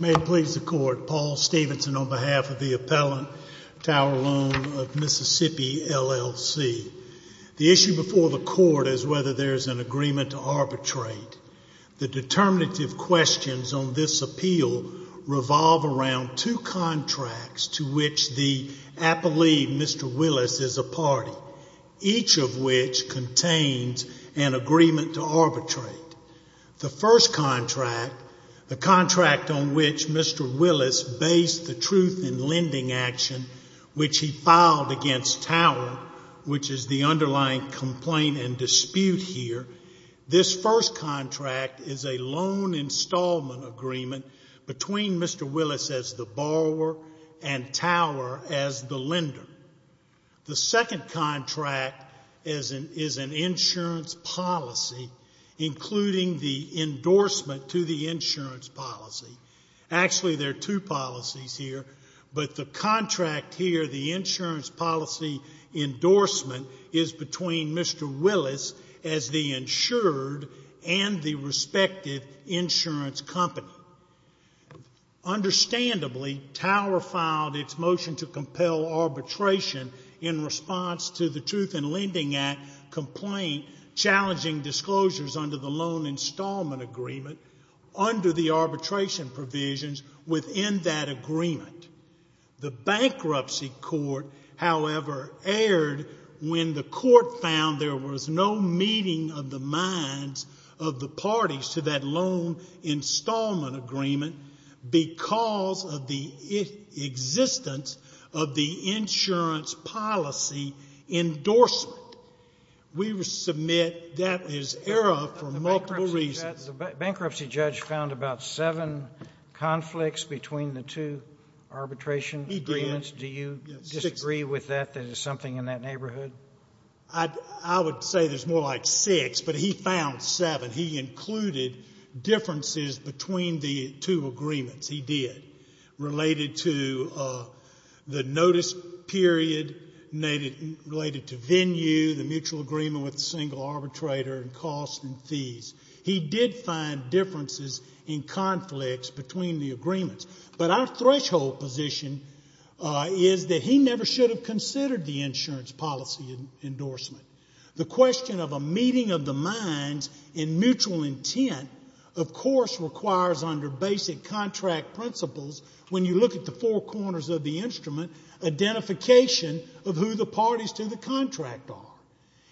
May it please the Court, Paul Stevenson on behalf of the Appellant Tower Loan of Mississippi, LLC. The issue before the Court is whether there is an agreement to arbitrate. The determinative questions on this appeal revolve around two contracts to which the appellee, Mr. Willis, is a party, each of which contains an agreement to arbitrate. The first contract, the contract on which Mr. Willis based the truth in lending action, which he filed against Tower, which is the underlying complaint and dispute here, this first contract is a loan installment agreement between Mr. Willis as the borrower and Tower as the lender. The second contract is an insurance policy, including the endorsement to the insurance policy. Actually, there are two policies here, but the contract here, the insurance policy endorsement, is between Mr. Willis as the insured and the respective insurance company. Understandably, Tower filed its motion to compel arbitration in response to the Truth in Lending Act complaint challenging disclosures under the loan installment agreement under the arbitration provisions within that agreement. The bankruptcy court, however, erred when the court found there was no meeting of the minds of the parties to that loan installment agreement because of the existence of the insurance policy endorsement. We submit that is error for multiple reasons. The bankruptcy judge found about seven conflicts between the two arbitration agreements. He did. Do you disagree with that, that there's something in that neighborhood? I would say there's more like six, but he found seven. He included differences between the two agreements. He did. Related to the notice period, related to venue, the mutual agreement with the single arbitrator, and costs and fees. He did find differences in conflicts between the agreements. But our threshold position is that he never should have considered the insurance policy endorsement. The question of a meeting of the minds in mutual intent, of course, requires under basic contract principles, when you look at the four corners of the instrument, identification of who the parties to the contract are.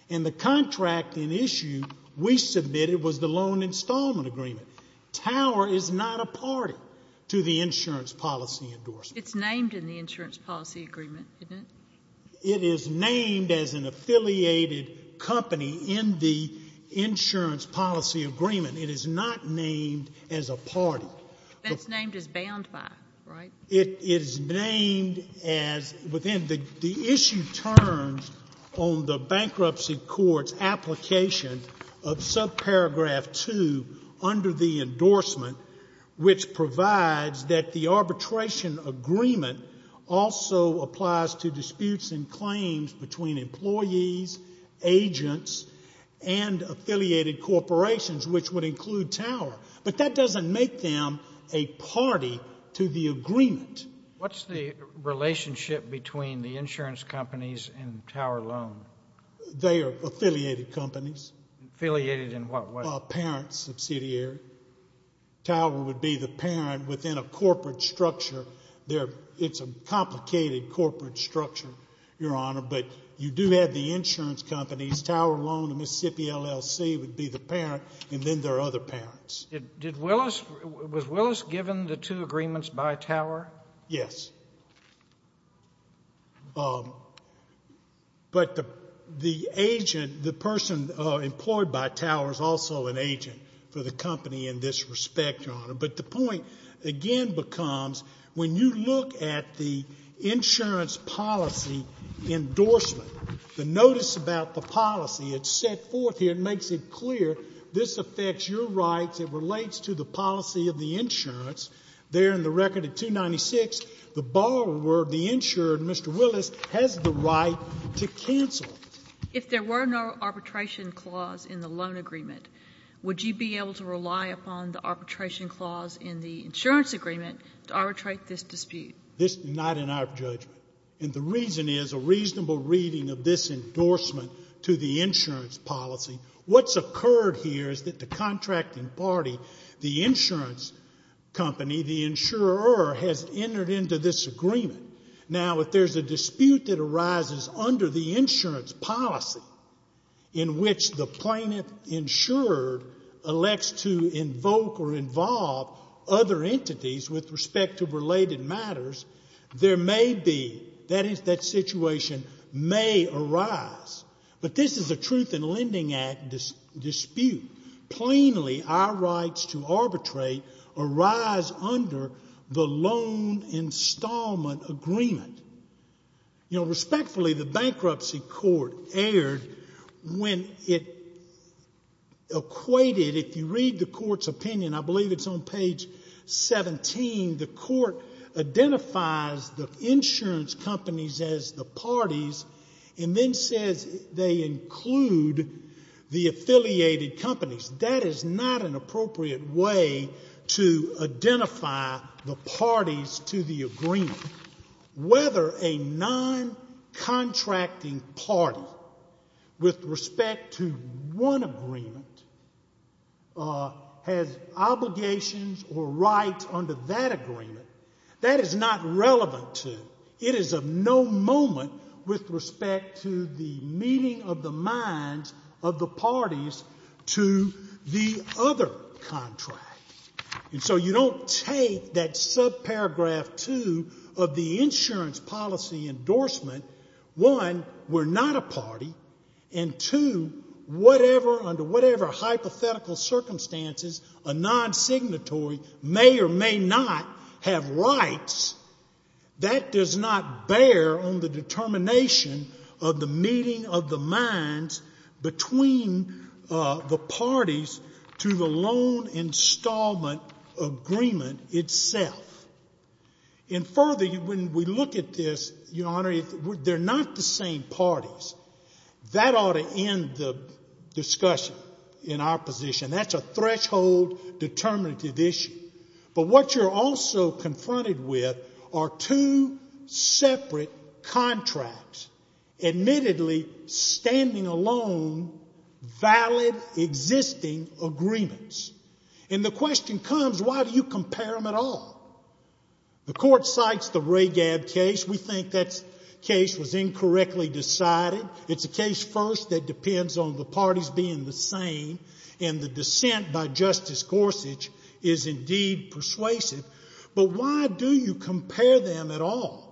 And the contract in issue we submitted was the loan installment agreement. Tower is not a party to the insurance policy endorsement. It's named in the insurance policy agreement, isn't it? It is named as an affiliated company in the insurance policy agreement. It is not named as a party. It's named as bound by, right? It is named as within the issue terms on the bankruptcy court's application of subparagraph 2 under the endorsement, which provides that the arbitration agreement also applies to disputes and claims between employees, agents, and affiliated corporations, which would include Tower. But that doesn't make them a party to the agreement. What's the relationship between the insurance companies and Tower Loan? They are affiliated companies. Affiliated in what way? A parent subsidiary. Tower would be the parent within a corporate structure. It's a complicated corporate structure, Your Honor, but you do have the insurance companies. Tower Loan and Mississippi LLC would be the parent, and then there are other parents. Was Willis given the two agreements by Tower? Yes. But the agent, the person employed by Tower is also an agent for the company in this respect, Your Honor. But the point, again, becomes when you look at the insurance policy endorsement, the notice about the policy, it's set forth here and makes it clear this affects your rights. It relates to the policy of the insurance. There in the record of 296, the borrower, the insurer, Mr. Willis, has the right to cancel. If there were no arbitration clause in the loan agreement, would you be able to rely upon the arbitration clause in the insurance agreement to arbitrate this dispute? This is not in our judgment. And the reason is a reasonable reading of this endorsement to the insurance policy. What's occurred here is that the contracting party, the insurance company, the insurer, has entered into this agreement. Now, if there's a dispute that arises under the insurance policy in which the plaintiff insured elects to invoke or involve other entities with respect to related matters, there may be, that situation may arise. But this is a Truth in Lending Act dispute. Plainly, our rights to arbitrate arise under the loan installment agreement. You know, respectfully, the bankruptcy court erred when it equated, if you read the court's opinion, I believe it's on page 17, the court identifies the insurance companies as the parties and then says they include the affiliated companies. That is not an appropriate way to identify the parties to the agreement. Whether a non-contracting party with respect to one agreement has obligations or rights under that agreement, that is not relevant to it. This is of no moment with respect to the meeting of the minds of the parties to the other contract. And so you don't take that subparagraph 2 of the insurance policy endorsement, one, we're not a party, and two, whatever, under whatever hypothetical circumstances, a non-signatory may or may not have rights. That does not bear on the determination of the meeting of the minds between the parties to the loan installment agreement itself. And further, when we look at this, Your Honor, they're not the same parties. That ought to end the discussion in our position. That's a threshold determinative issue. But what you're also confronted with are two separate contracts, admittedly standing alone, valid existing agreements. And the question comes, why do you compare them at all? The court cites the Ragab case. We think that case was incorrectly decided. It's a case first that depends on the parties being the same, and the dissent by Justice Gorsuch is indeed persuasive. But why do you compare them at all?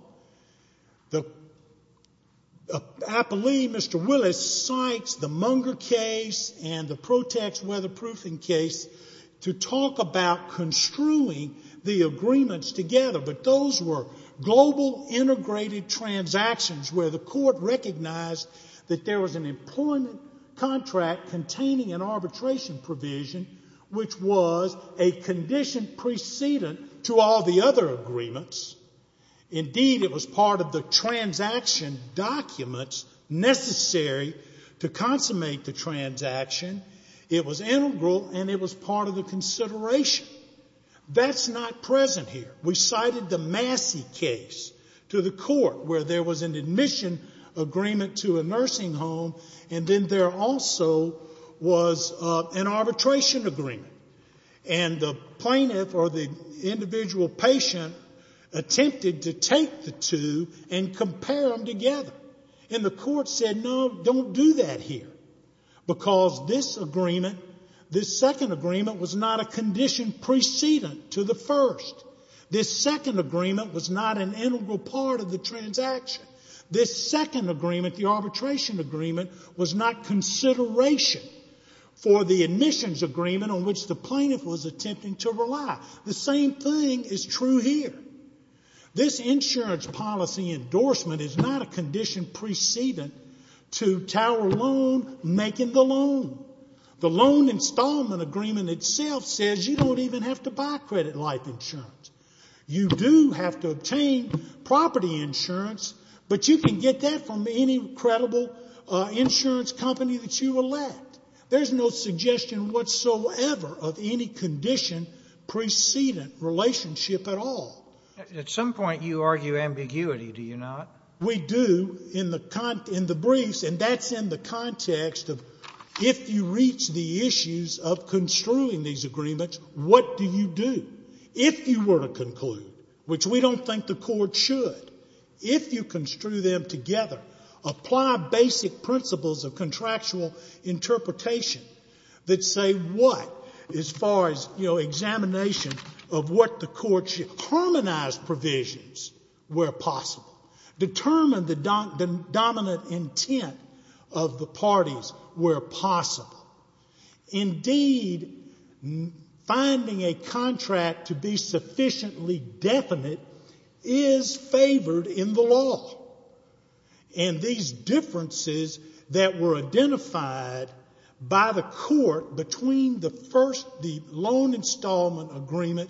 I believe Mr. Willis cites the Munger case and the Protex weatherproofing case to talk about construing the agreements together. But those were global integrated transactions where the court recognized that there was an employment contract containing an arbitration provision which was a condition precedent to all the other agreements. Indeed, it was part of the transaction documents necessary to consummate the transaction. It was integral, and it was part of the consideration. That's not present here. We cited the Massey case to the court where there was an admission agreement to a nursing home, and then there also was an arbitration agreement. And the plaintiff or the individual patient attempted to take the two and compare them together. And the court said, no, don't do that here, because this agreement, this second agreement, was not a condition precedent to the first. This second agreement was not an integral part of the transaction. This second agreement, the arbitration agreement, was not consideration for the admissions agreement on which the plaintiff was attempting to rely. The same thing is true here. This insurance policy endorsement is not a condition precedent to Tower Loan making the loan. The loan installment agreement itself says you don't even have to buy credit life insurance. You do have to obtain property insurance, but you can get that from any credible insurance company that you elect. There's no suggestion whatsoever of any condition precedent relationship at all. At some point you argue ambiguity, do you not? We do in the briefs, and that's in the context of if you reach the issues of construing these agreements, what do you do? If you were to conclude, which we don't think the court should, if you construe them together, apply basic principles of contractual interpretation that say what, as far as, you know, examination of what the court should, harmonize provisions where possible. Determine the dominant intent of the parties where possible. Indeed, finding a contract to be sufficiently definite is favored in the law. And these differences that were identified by the court between the first, the loan installment agreement,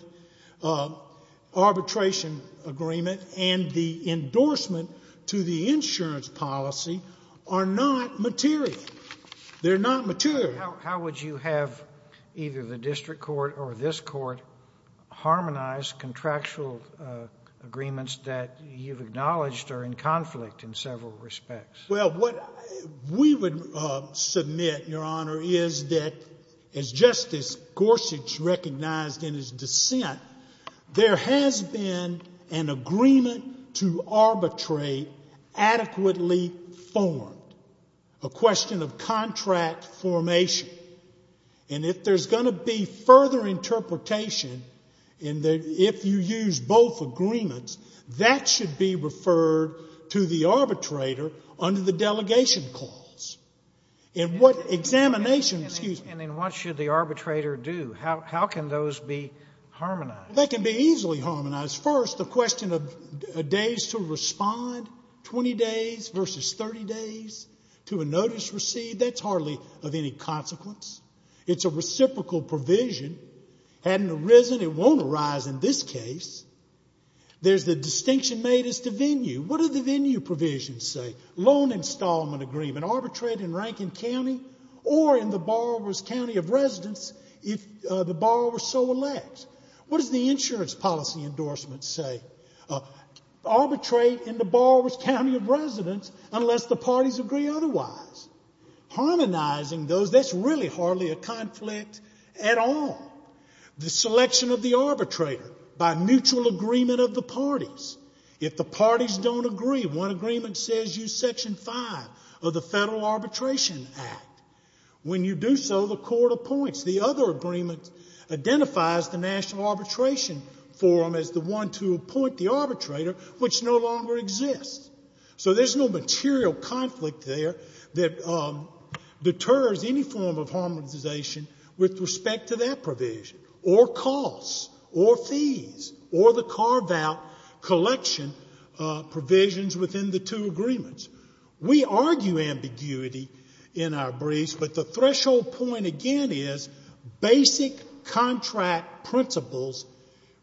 arbitration agreement, and the endorsement to the insurance policy are not material. They're not material. How would you have either the district court or this court harmonize contractual agreements that you've acknowledged are in conflict in several respects? Well, what we would submit, Your Honor, is that as Justice Gorsuch recognized in his dissent, there has been an agreement to arbitrate adequately formed. A question of contract formation. And if there's going to be further interpretation in that if you use both agreements, that should be referred to the arbitrator under the delegation clause. In what examination, excuse me. And then what should the arbitrator do? How can those be harmonized? They can be easily harmonized. First, the question of days to respond, 20 days versus 30 days to a notice received, that's hardly of any consequence. It's a reciprocal provision. Hadn't arisen, it won't arise in this case. There's the distinction made as to venue. What do the venue provisions say? Loan installment agreement. Arbitrate in Rankin County or in the borrower's county of residence if the borrower so elects. What does the insurance policy endorsement say? Arbitrate in the borrower's county of residence unless the parties agree otherwise. Harmonizing those, that's really hardly a conflict at all. The selection of the arbitrator by mutual agreement of the parties. If the parties don't agree, one agreement says use Section 5 of the Federal Arbitration Act. When you do so, the court appoints. The other agreement identifies the National Arbitration Forum as the one to appoint the arbitrator, which no longer exists. So there's no material conflict there that deters any form of harmonization with respect to that provision, or costs, or fees, or the carve-out collection provisions within the two agreements. We argue ambiguity in our briefs, but the threshold point, again, basic contract principles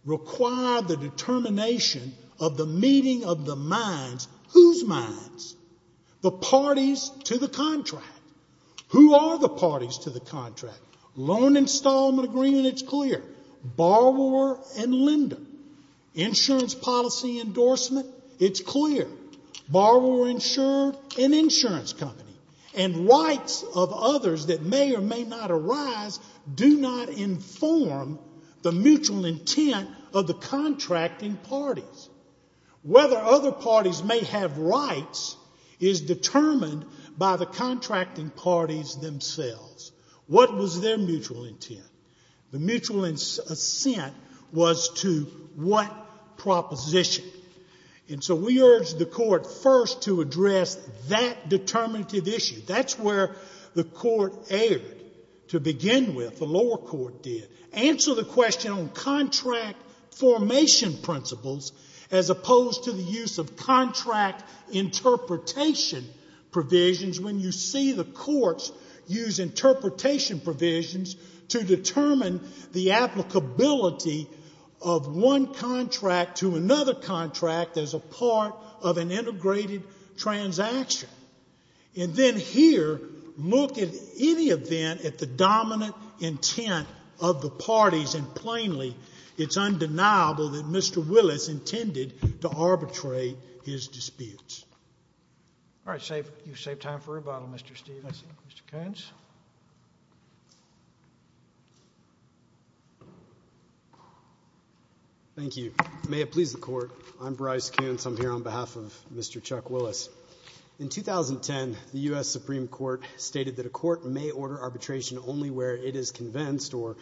require the determination of the meeting of the minds. Whose minds? The parties to the contract. Who are the parties to the contract? Loan installment agreement, it's clear. Borrower and lender. Insurance policy endorsement, it's clear. Borrower insured, an insurance company. And rights of others that may or may not arise do not inform the mutual intent of the contracting parties. Whether other parties may have rights is determined by the contracting parties themselves. What was their mutual intent? The mutual assent was to what proposition? And so we urged the court first to address that determinative issue. That's where the court erred to begin with. The lower court did. Answer the question on contract formation principles as opposed to the use of contract interpretation provisions when you see the courts use interpretation provisions to determine the applicability of one contract to another contract as a part of an integrated transaction. And then here, look at any event at the dominant intent of the parties, and plainly it's undeniable that Mr. Willis intended to arbitrate his disputes. All right. You've saved time for rebuttal, Mr. Stevens. Mr. Koontz. Thank you. May it please the Court, I'm Bryce Koontz. I'm here on behalf of Mr. Chuck Willis. In 2010, the U.S. Supreme Court stated that a court may order arbitration only where it is convinced or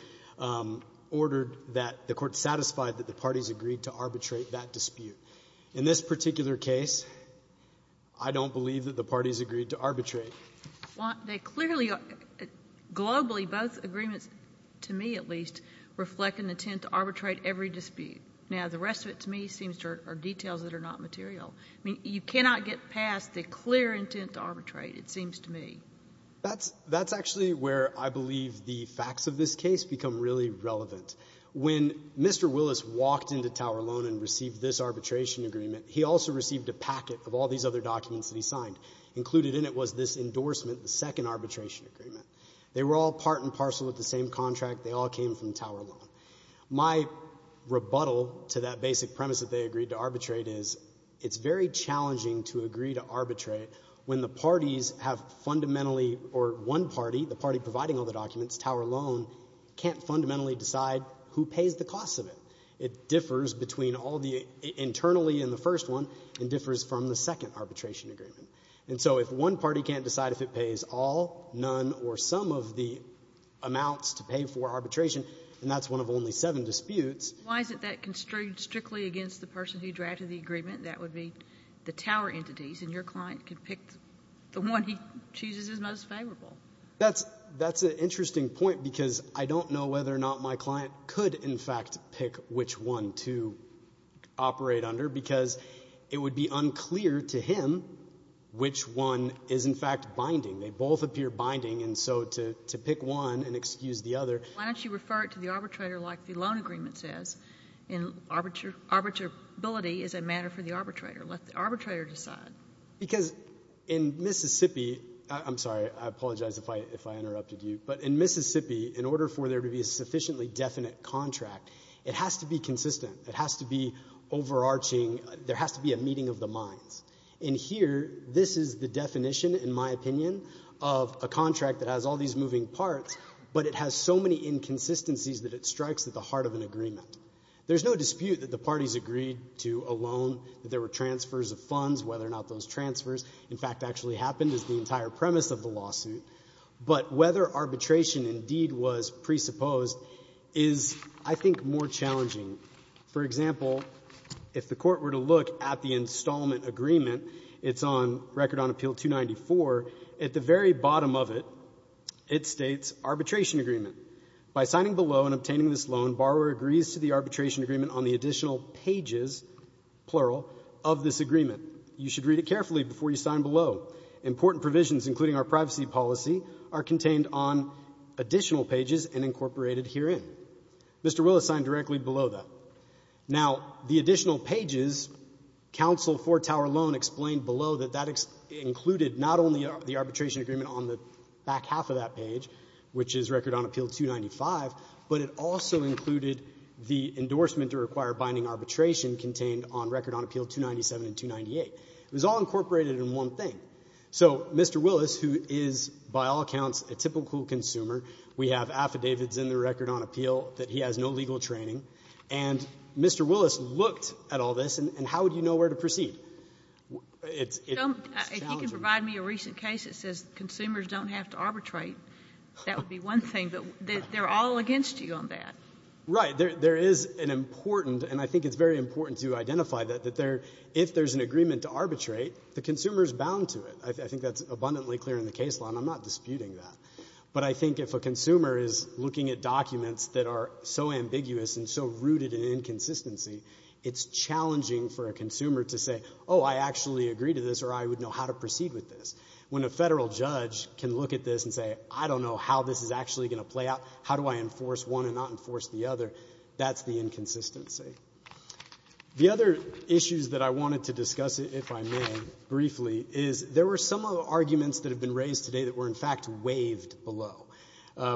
ordered that the court satisfied that the parties agreed to arbitrate that dispute. In this particular case, I don't believe that the parties agreed to arbitrate. Well, they clearly are. Globally, both agreements, to me at least, reflect an intent to arbitrate every dispute. Now, the rest of it to me seems to be details that are not material. I mean, you cannot get past the clear intent to arbitrate, it seems to me. That's actually where I believe the facts of this case become really relevant. When Mr. Willis walked into Tower Loan and received this arbitration agreement, he also received a packet of all these other documents that he signed. Included in it was this endorsement, the second arbitration agreement. They were all part and parcel with the same contract. They all came from Tower Loan. My rebuttal to that basic premise that they agreed to arbitrate is it's very challenging to agree to arbitrate when the parties have fundamentally, or one party, the party providing all the documents, Tower Loan, can't fundamentally decide who pays the cost of it. It differs between all the, internally in the first one, and differs from the second arbitration agreement. And so if one party can't decide if it pays all, none, or some of the amounts to pay for arbitration, then that's one of only seven disputes. Why is it that constrained strictly against the person who drafted the agreement? That would be the Tower entities, and your client could pick the one he chooses is most favorable. That's an interesting point because I don't know whether or not my client could, in fact, pick which one to operate under because it would be unclear to him which one is, in fact, binding. They both appear binding, and so to pick one and excuse the other. Why don't you refer it to the arbitrator like the loan agreement says? Arbitrability is a matter for the arbitrator. Let the arbitrator decide. Because in Mississippi, I'm sorry, I apologize if I interrupted you, but in Mississippi, in order for there to be a sufficiently definite contract, it has to be consistent. It has to be overarching. There has to be a meeting of the minds. In here, this is the definition, in my opinion, of a contract that has all these moving parts, but it has so many inconsistencies that it strikes at the heart of an agreement. There's no dispute that the parties agreed to a loan, that there were transfers of funds, whether or not those transfers, in fact, actually happened is the entire premise of the lawsuit, but whether arbitration indeed was presupposed is, I think, more challenging. For example, if the Court were to look at the installment agreement, it's on Record on Appeal 294. At the very bottom of it, it states arbitration agreement. By signing the loan, obtaining this loan, borrower agrees to the arbitration agreement on the additional pages, plural, of this agreement. You should read it carefully before you sign below. Important provisions, including our privacy policy, are contained on additional pages and incorporated herein. Mr. Willis signed directly below that. Now, the additional pages, counsel for Tower Loan explained below that that included not only the arbitration agreement on the back half of that page, which is Record on Appeal 295, but it also included the endorsement to require binding arbitration contained on Record on Appeal 297 and 298. It was all incorporated in one thing. So Mr. Willis, who is, by all accounts, a typical consumer, we have affidavits in the Record on Appeal that he has no legal training. And Mr. Willis looked at all this, and how would you know where to proceed? It's challenging. If you can provide me a recent case that says consumers don't have to arbitrate, that would be one thing, but they're all against you on that. Right. There is an important, and I think it's very important to identify that, if there's an agreement to arbitrate, the consumer is bound to it. I think that's abundantly clear in the case law, and I'm not disputing that. But I think if a consumer is looking at documents that are so ambiguous and so rooted in inconsistency, it's challenging for a consumer to say, oh, I actually agree to this, or I would know how to proceed with this. When a federal judge can look at this and say, I don't know how this is actually going to play out, how do I enforce one and not enforce the other, that's the inconsistency. The other issues that I wanted to discuss, if I may, briefly, is there were some arguments that have been raised today that were, in fact, waived below.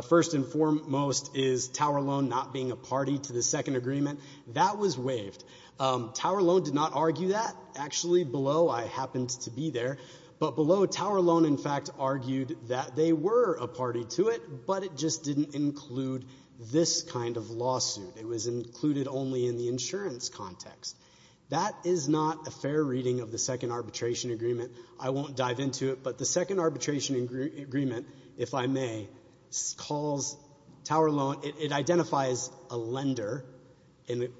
First and foremost is Tower Loan not being a party to the second agreement. That was waived. Tower Loan did not argue that. Actually, below, I happened to be there. But below, Tower Loan, in fact, argued that they were a party to it, but it just didn't include this kind of lawsuit. It was included only in the insurance context. That is not a fair reading of the second arbitration agreement. I won't dive into it, but the second arbitration agreement, if I may, calls Tower Loan, it identifies a lender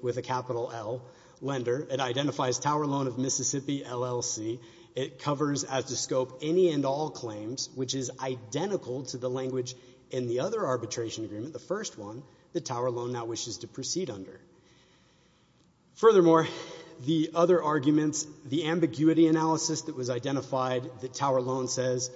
with a capital L, lender. It identifies Tower Loan of Mississippi LLC. It covers, as the scope, any and all claims, which is identical to the language in the other arbitration agreement, the first one, that Tower Loan now wishes to proceed under. Furthermore, the other arguments, the ambiguity analysis that was identified, that Tower Loan says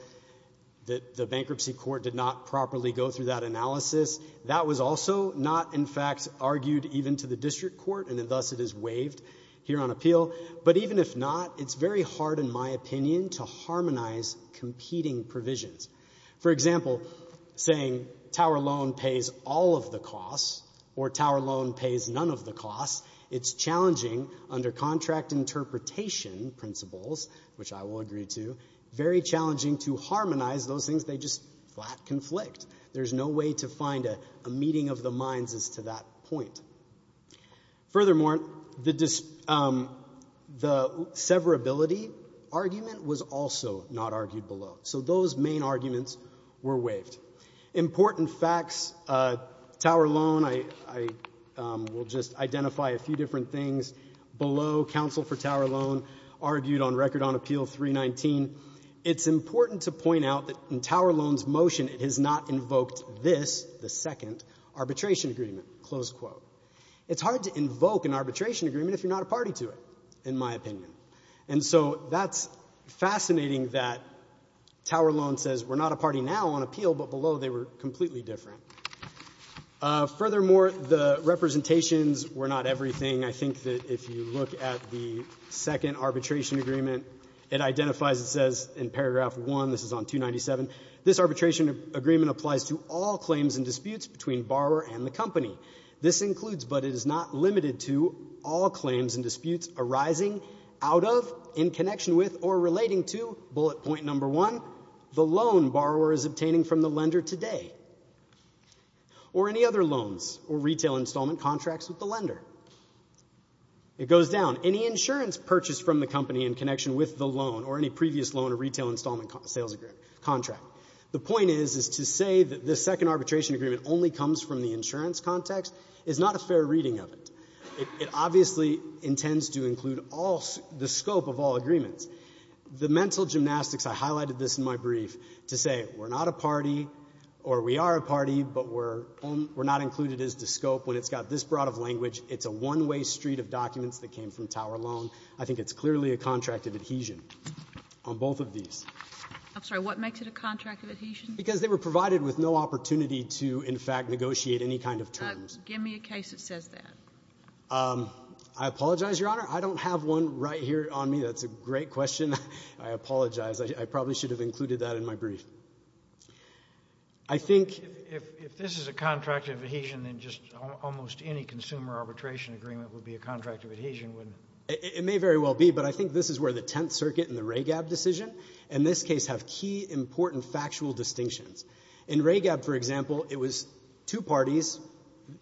that the bankruptcy court did not properly go through that analysis, that was also not, in fact, argued even to the district court, and thus it is waived here on appeal. But even if not, it's very hard, in my opinion, to harmonize competing provisions. For example, saying Tower Loan pays all of the costs or Tower Loan pays none of the costs, it's challenging under contract interpretation principles, which I will agree to, very challenging to harmonize those things. They just flat conflict. There's no way to find a meeting of the minds as to that point. Furthermore, the severability argument was also not argued below. So those main arguments were waived. Important facts, Tower Loan, I will just identify a few different things. Below, counsel for Tower Loan argued on Record on Appeal 319, it's important to point out that in Tower Loan's motion it has not invoked this, the second arbitration agreement, close quote. It's hard to invoke an arbitration agreement if you're not a party to it, in my opinion. And so that's fascinating that Tower Loan says we're not a party now on appeal, but below they were completely different. Furthermore, the representations were not everything. I think that if you look at the second arbitration agreement, it identifies, it says in paragraph 1, this is on 297, this arbitration agreement applies to all claims and disputes between borrower and the company. This includes, but it is not limited to, all claims and disputes arising out of, in connection with, or relating to, bullet point number one, the loan borrower is obtaining from the lender today, or any other loans or retail installment contracts with the lender. It goes down. Any insurance purchased from the company in connection with the loan or any previous loan or retail installment sales contract. The point is to say that the second arbitration agreement only comes from the insurance context is not a fair reading of it. It obviously intends to include the scope of all agreements. The mental gymnastics, I highlighted this in my brief, to say we're not a party or we are a party, but we're not included as the scope when it's got this broad of language. It's a one-way street of documents that came from Tower Loan. I think it's clearly a contract of adhesion on both of these. I'm sorry, what makes it a contract of adhesion? Because they were provided with no opportunity to, in fact, negotiate any kind of terms. Give me a case that says that. I apologize, Your Honor. I don't have one right here on me. That's a great question. I apologize. I probably should have included that in my brief. I think if this is a contract of adhesion, then just almost any consumer arbitration agreement would be a contract of adhesion, wouldn't it? It may very well be, but I think this is where the Tenth Circuit and the RAGAB decision, in this case, have key important factual distinctions. In RAGAB, for example, it was two parties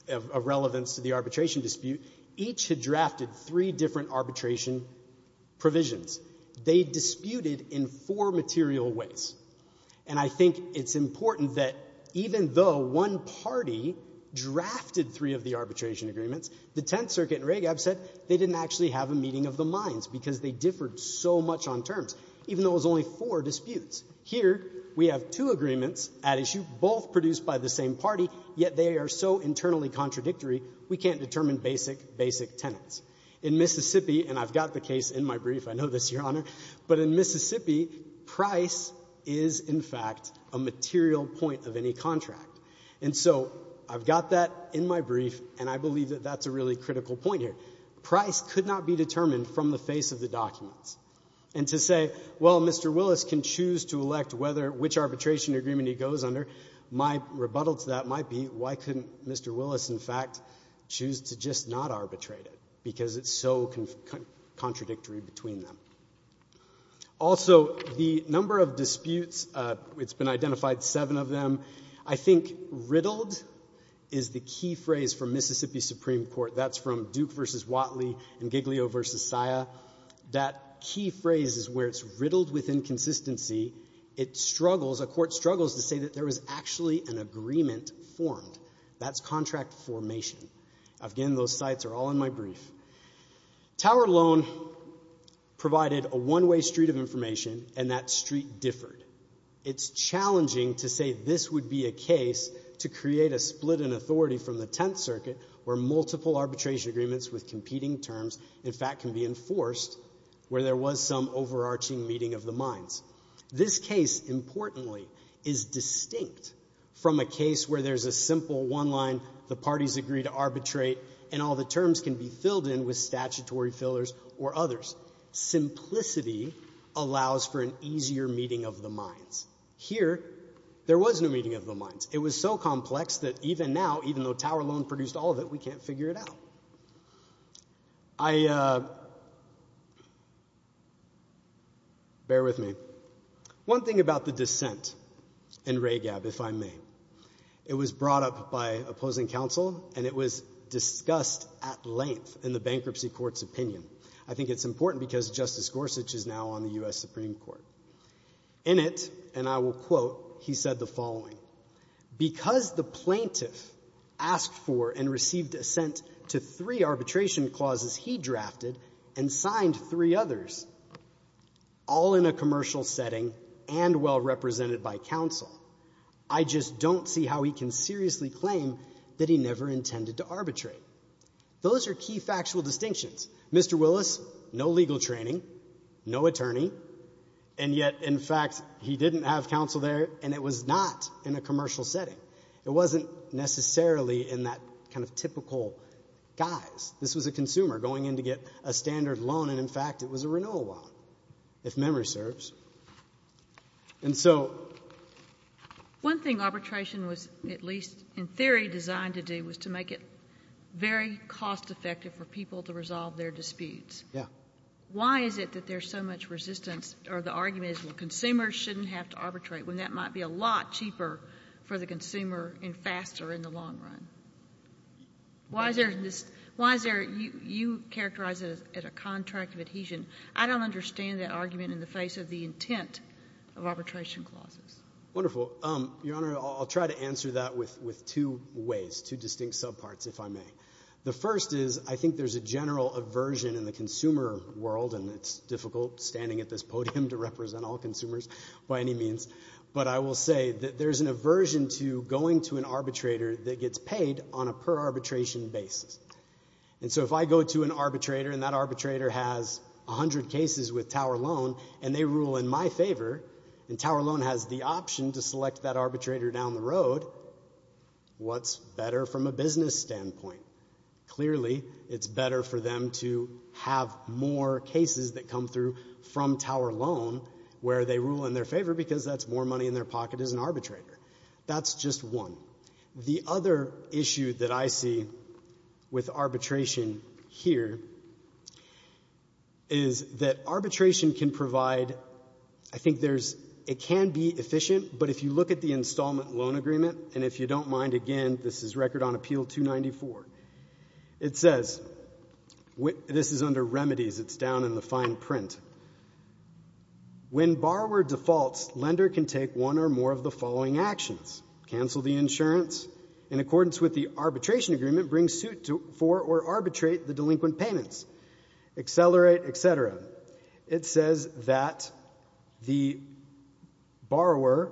of relevance to the arbitration dispute. Each had drafted three different arbitration provisions. They disputed in four material ways. And I think it's important that even though one party drafted three of the arbitration agreements, the Tenth Circuit and RAGAB said they didn't actually have a meeting of the minds because they differed so much on terms, even though it was only four disputes. Here, we have two agreements at issue, both produced by the same party, yet they are so internally contradictory, we can't determine basic, basic tenets. In Mississippi, and I've got the case in my brief, I know this, Your Honor, but in Mississippi, price is, in fact, a material point of any contract. And so I've got that in my brief, and I believe that that's a really critical point here. Price could not be determined from the face of the documents. And to say, well, Mr. Willis can choose to elect which arbitration agreement he goes under, my rebuttal to that might be, why couldn't Mr. Willis, in fact, choose to just not arbitrate it because it's so contradictory between them. Also, the number of disputes, it's been identified seven of them. I think riddled is the key phrase for Mississippi Supreme Court. That's from Duke v. Watley and Giglio v. Sia. That key phrase is where it's riddled with inconsistency. It struggles, a court struggles to say that there was actually an agreement formed. That's contract formation. Again, those sites are all in my brief. Tower Loan provided a one-way street of information, and that street differed. It's challenging to say this would be a case to create a split in authority from the Tenth Circuit where multiple arbitration agreements with competing terms, in fact, can be enforced where there was some overarching meeting of the minds. This case, importantly, is distinct from a case where there's a simple one line, the parties agree to arbitrate, and all the terms can be filled in with statutory fillers or others. Simplicity allows for an easier meeting of the minds. Here, there was no meeting of the minds. It was so complex that even now, even though Tower Loan produced all of it, we can't figure it out. I, uh, bear with me. One thing about the dissent in RAGAB, if I may. It was brought up by opposing counsel, and it was discussed at length in the bankruptcy court's opinion. I think it's important because Justice Gorsuch is now on the U.S. Supreme Court. In it, and I will quote, he said the following, because the plaintiff asked for and received assent to three arbitration clauses he drafted and signed three others, all in a commercial setting and well represented by counsel, I just don't see how he can seriously claim that he never intended to arbitrate. Those are key factual distinctions. Mr. Willis, no legal training, no attorney, and yet, in fact, he didn't have counsel there, and it was not in a commercial setting. It wasn't necessarily in that kind of typical guise. This was a consumer going in to get a standard loan, and, in fact, it was a renewal loan, if memory serves. And so... One thing arbitration was, at least in theory, designed to do was to make it very cost effective for people to resolve their disputes. Yeah. Why is it that there's so much resistance, or the argument is, well, consumers shouldn't have to arbitrate, when that might be a lot cheaper for the consumer and faster in the long run? Why is there this, why is there, you characterize it as a contract of adhesion. I don't understand that argument in the face of the intent of arbitration clauses. Wonderful. Your Honor, I'll try to answer that with two ways, two distinct subparts, if I may. The first is I think there's a general aversion in the consumer world, and it's difficult standing at this podium to represent all consumers by any means, but I will say that there's an aversion to going to an arbitrator that gets paid on a per-arbitration basis. And so if I go to an arbitrator, and that arbitrator has 100 cases with Tower Loan, and they rule in my favor, and Tower Loan has the option to select that arbitrator down the road, what's better from a business standpoint? Clearly, it's better for them to have more cases that come through from Tower Loan, where they rule in their favor because that's more money in their pocket as an arbitrator. That's just one. The other issue that I see with arbitration here is that arbitration can provide, I think there's, it can be efficient, but if you look at the installment loan agreement, and if you don't mind, again, this is Record on Appeal 294, it says, this is under remedies, it's down in the fine print, when borrower defaults, lender can take one or more of the following actions. Cancel the insurance in accordance with the arbitration agreement, bring suit for or arbitrate the delinquent payments, accelerate, et cetera. It says that the borrower,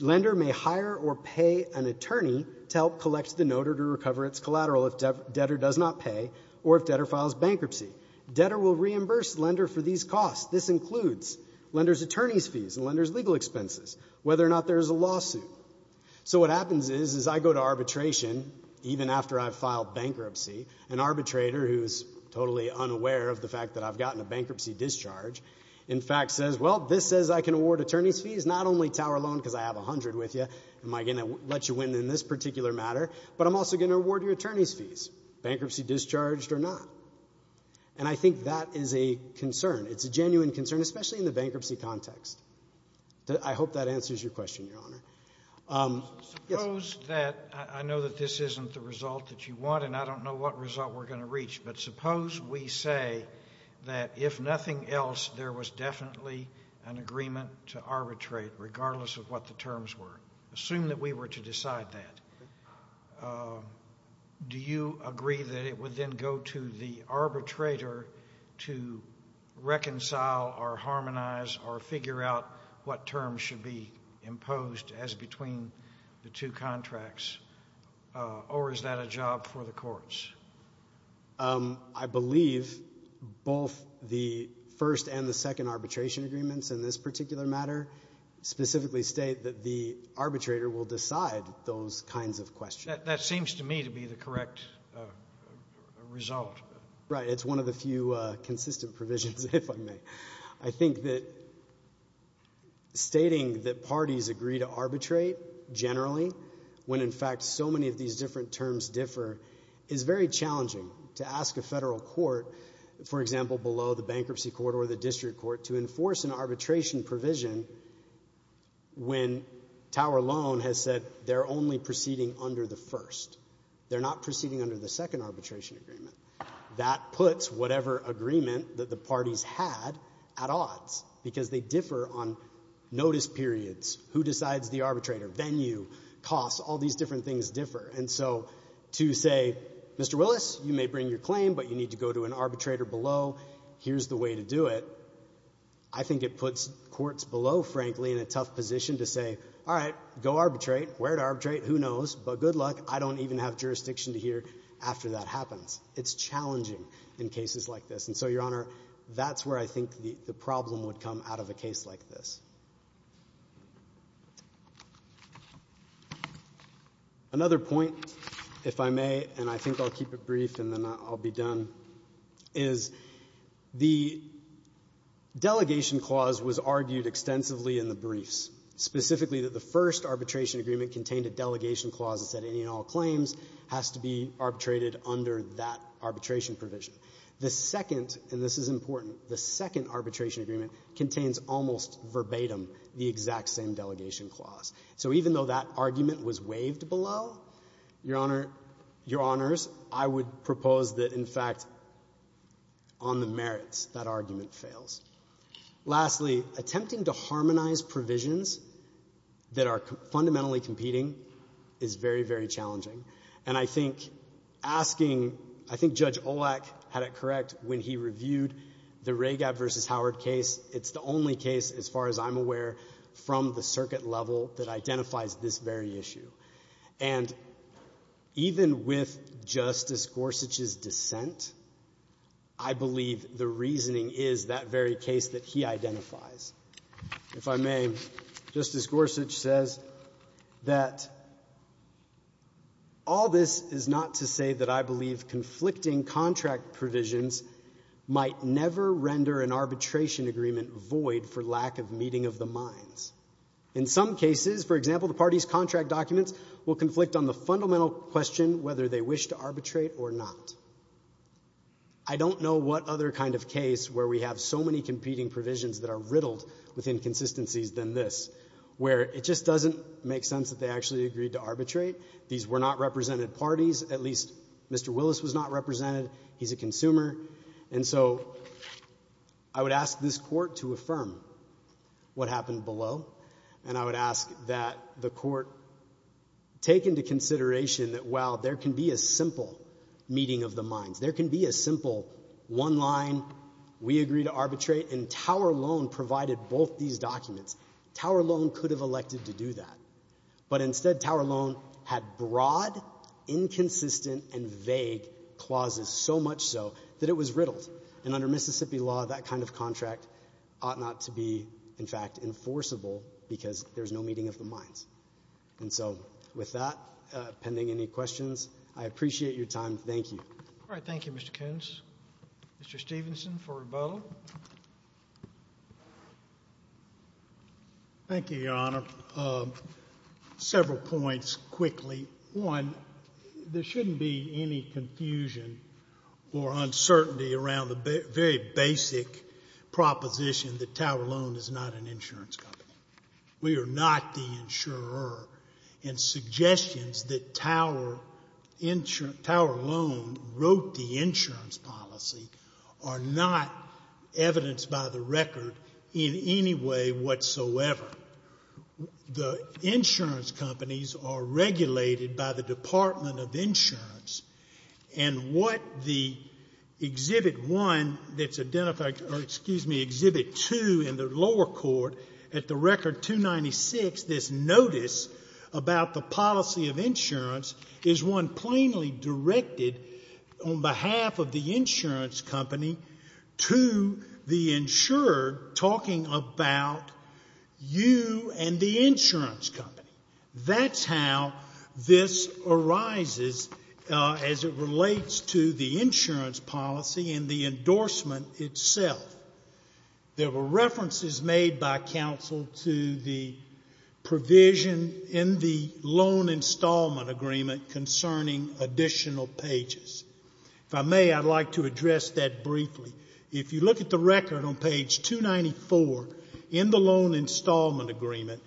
lender may hire or pay an attorney to help collect the note or to recover its collateral if debtor does not pay or if debtor files bankruptcy. Debtor will reimburse lender for these costs. This includes lender's attorney's fees and lender's legal expenses, whether or not there's a lawsuit. So what happens is, is I go to arbitration, even after I've filed bankruptcy, an arbitrator who's totally unaware of the fact that I've gotten a bankruptcy discharge, in fact, says, well, this says I can award attorney's fees, not only Tower Loan because I have 100 with you, am I going to let you win in this particular matter, but I'm also going to award you attorney's fees, bankruptcy discharged or not? And I think that is a concern. It's a genuine concern, especially in the bankruptcy context. I hope that answers your question, Your Honor. Suppose that, I know that this isn't the result that you want and I don't know what result we're going to reach, but suppose we say that if nothing else, there was definitely an agreement to arbitrate, regardless of what the terms were. Assume that we were to decide that. Do you agree that it would then go to the arbitrator to reconcile or harmonize or figure out what terms should be imposed as between the two contracts, or is that a job for the courts? I believe both the first and the second arbitration agreements in this particular matter specifically state that the arbitrator will decide those kinds of questions. That seems to me to be the correct result. Right. It's one of the few consistent provisions, if I may. I think that stating that parties agree to arbitrate generally, when in fact so many of these different terms differ, is very challenging. To ask a federal court, for example, below the bankruptcy court or the district court, to enforce an arbitration provision when Tower Loan has said they're only proceeding under the first. They're not proceeding under the second arbitration agreement. That puts whatever agreement that the parties had at odds because they differ on notice periods, who decides the arbitrator, venue, costs, all these different things differ. And so to say, Mr. Willis, you may bring your claim, but you need to go to an arbitrator below. Here's the way to do it. I think it puts courts below, frankly, in a tough position to say, all right, go arbitrate, where to arbitrate, who knows, but good luck. I don't even have jurisdiction to hear after that happens. It's challenging in cases like this. And so, Your Honor, that's where I think the problem would come out of a case like this. Another point, if I may, and I think I'll keep it brief and then I'll be done, is the delegation clause was argued extensively in the briefs, specifically that the first arbitration agreement contained a delegation clause that said any and all claims has to be arbitrated under that arbitration provision. The second, and this is important, the second arbitration agreement contains almost verbatim the exact same delegation clause. So even though that argument was waived below, Your Honors, I would propose that, in fact, on the merits, that argument fails. Lastly, attempting to harmonize provisions that are fundamentally competing is very, very challenging. And I think asking, I think Judge Olak had it correct when he reviewed the Ragab v. Howard case. It's the only case, as far as I'm aware, from the circuit level that identifies this very issue. And even with Justice Gorsuch's dissent, I believe the reasoning is that very case that he identifies. If I may, Justice Gorsuch says that all this is not to say that I believe conflicting contract provisions might never render an arbitration agreement void for lack of meeting of the minds. In some cases, for example, the parties' contract documents will conflict on the fundamental question whether they wish to arbitrate or not. I don't know what other kind of case where we have so many competing provisions that are riddled with inconsistencies than this, where it just doesn't make sense that they actually agreed to arbitrate. These were not represented parties. At least Mr. Willis was not represented. He's a consumer. And so I would ask this Court to affirm what happened below. And I would ask that the Court take into consideration that, while there can be a simple meeting of the minds, there can be a simple one line, we agree to arbitrate, and Tower Loan provided both these documents. Tower Loan could have elected to do that. But instead, Tower Loan had broad, inconsistent, and vague clauses, so much so that it was riddled. And under Mississippi law, that kind of contract ought not to be, in fact, enforceable because there's no meeting of the minds. And so with that, pending any questions, I appreciate your time. Thank you. All right. Thank you, Mr. Koontz. Mr. Stevenson for rebuttal. Thank you, Your Honor. Several points quickly. One, there shouldn't be any confusion or uncertainty around the very basic proposition that Tower Loan is not an insurance company. We are not the insurer. And suggestions that Tower Loan wrote the insurance policy are not evidenced by the record in any way whatsoever. The insurance companies are regulated by the Department of Insurance. And what the Exhibit 1 that's identified, or excuse me, Exhibit 2 in the lower court, at the record 296, this notice about the policy of insurance, is one plainly directed on behalf of the insurance company to the insurer talking about you and the insurance company. That's how this arises as it relates to the insurance policy and the endorsement itself. There were references made by counsel to the provision in the loan installment agreement concerning additional pages. If I may, I'd like to address that briefly. If you look at the record on page 294 in the loan installment agreement,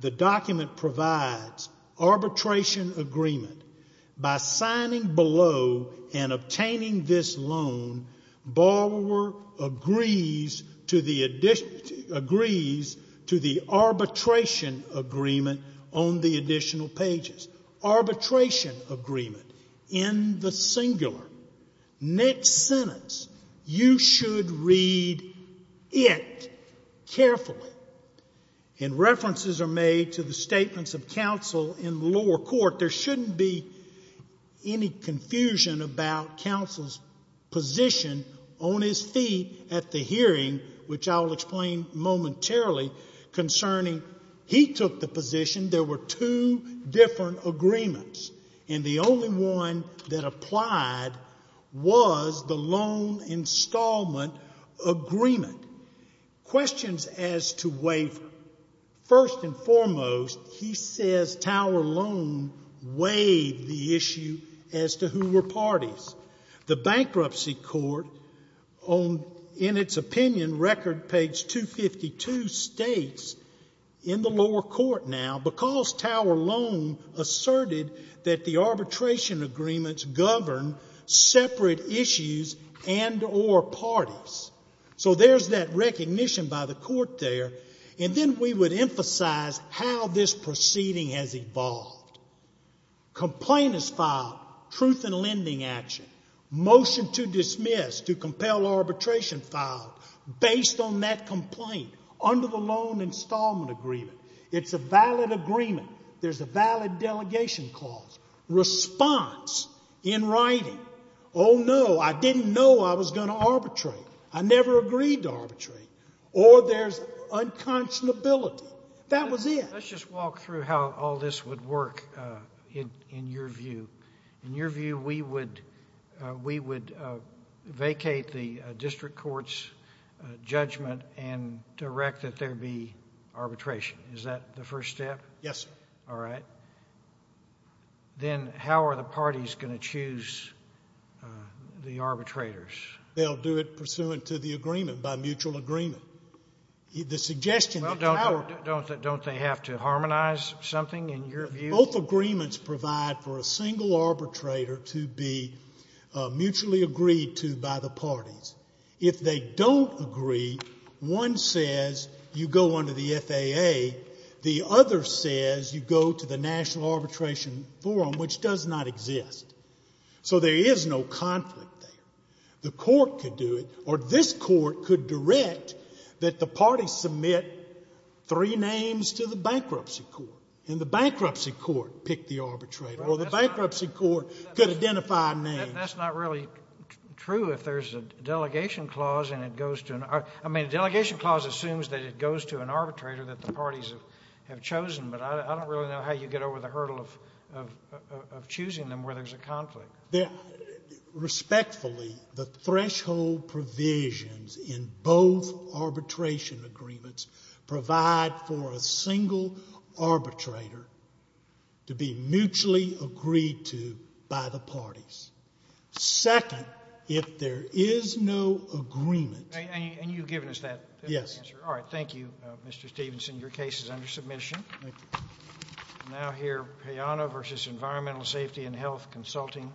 the document provides arbitration agreement. By signing below and obtaining this loan, borrower agrees to the arbitration agreement on the additional pages. Arbitration agreement in the singular. Next sentence. You should read it carefully. And references are made to the statements of counsel in the lower court. There shouldn't be any confusion about counsel's position on his feet at the hearing, which I will explain momentarily, concerning he took the position there were two different agreements, and the only one that applied was the loan installment agreement. Questions as to waiver. First and foremost, he says Tower Loan waived the issue as to who were parties. The bankruptcy court, in its opinion, record page 252 states in the lower court now because Tower Loan asserted that the arbitration agreements govern separate issues and or parties. So there's that recognition by the court there. And then we would emphasize how this proceeding has evolved. Complaint is filed. Truth in lending action. Motion to dismiss, to compel arbitration filed based on that complaint under the loan installment agreement. It's a valid agreement. There's a valid delegation clause. Response in writing. Oh, no, I didn't know I was going to arbitrate. I never agreed to arbitrate. Or there's unconscionability. That was it. Let's just walk through how all this would work in your view. In your view, we would vacate the district court's judgment and direct that there be arbitration. Is that the first step? Yes, sir. All right. Then how are the parties going to choose the arbitrators? They'll do it pursuant to the agreement, by mutual agreement. Well, don't they have to harmonize something in your view? Both agreements provide for a single arbitrator to be mutually agreed to by the parties. If they don't agree, one says you go under the FAA. The other says you go to the National Arbitration Forum, which does not exist. So there is no conflict there. The court could do it, or this court could direct that the party submit three names to the bankruptcy court, and the bankruptcy court pick the arbitrator, or the bankruptcy court could identify names. That's not really true if there's a delegation clause and it goes to an arbitrator. I mean, a delegation clause assumes that it goes to an arbitrator that the parties have chosen, but I don't really know how you get over the hurdle of choosing them where there's a conflict. Respectfully, the threshold provisions in both arbitration agreements provide for a single arbitrator to be mutually agreed to by the parties. Second, if there is no agreement. And you've given us that answer. Yes. All right, thank you, Mr. Stevenson. Your case is under submission. Now here, Hayano versus Environmental Safety and Health Consulting.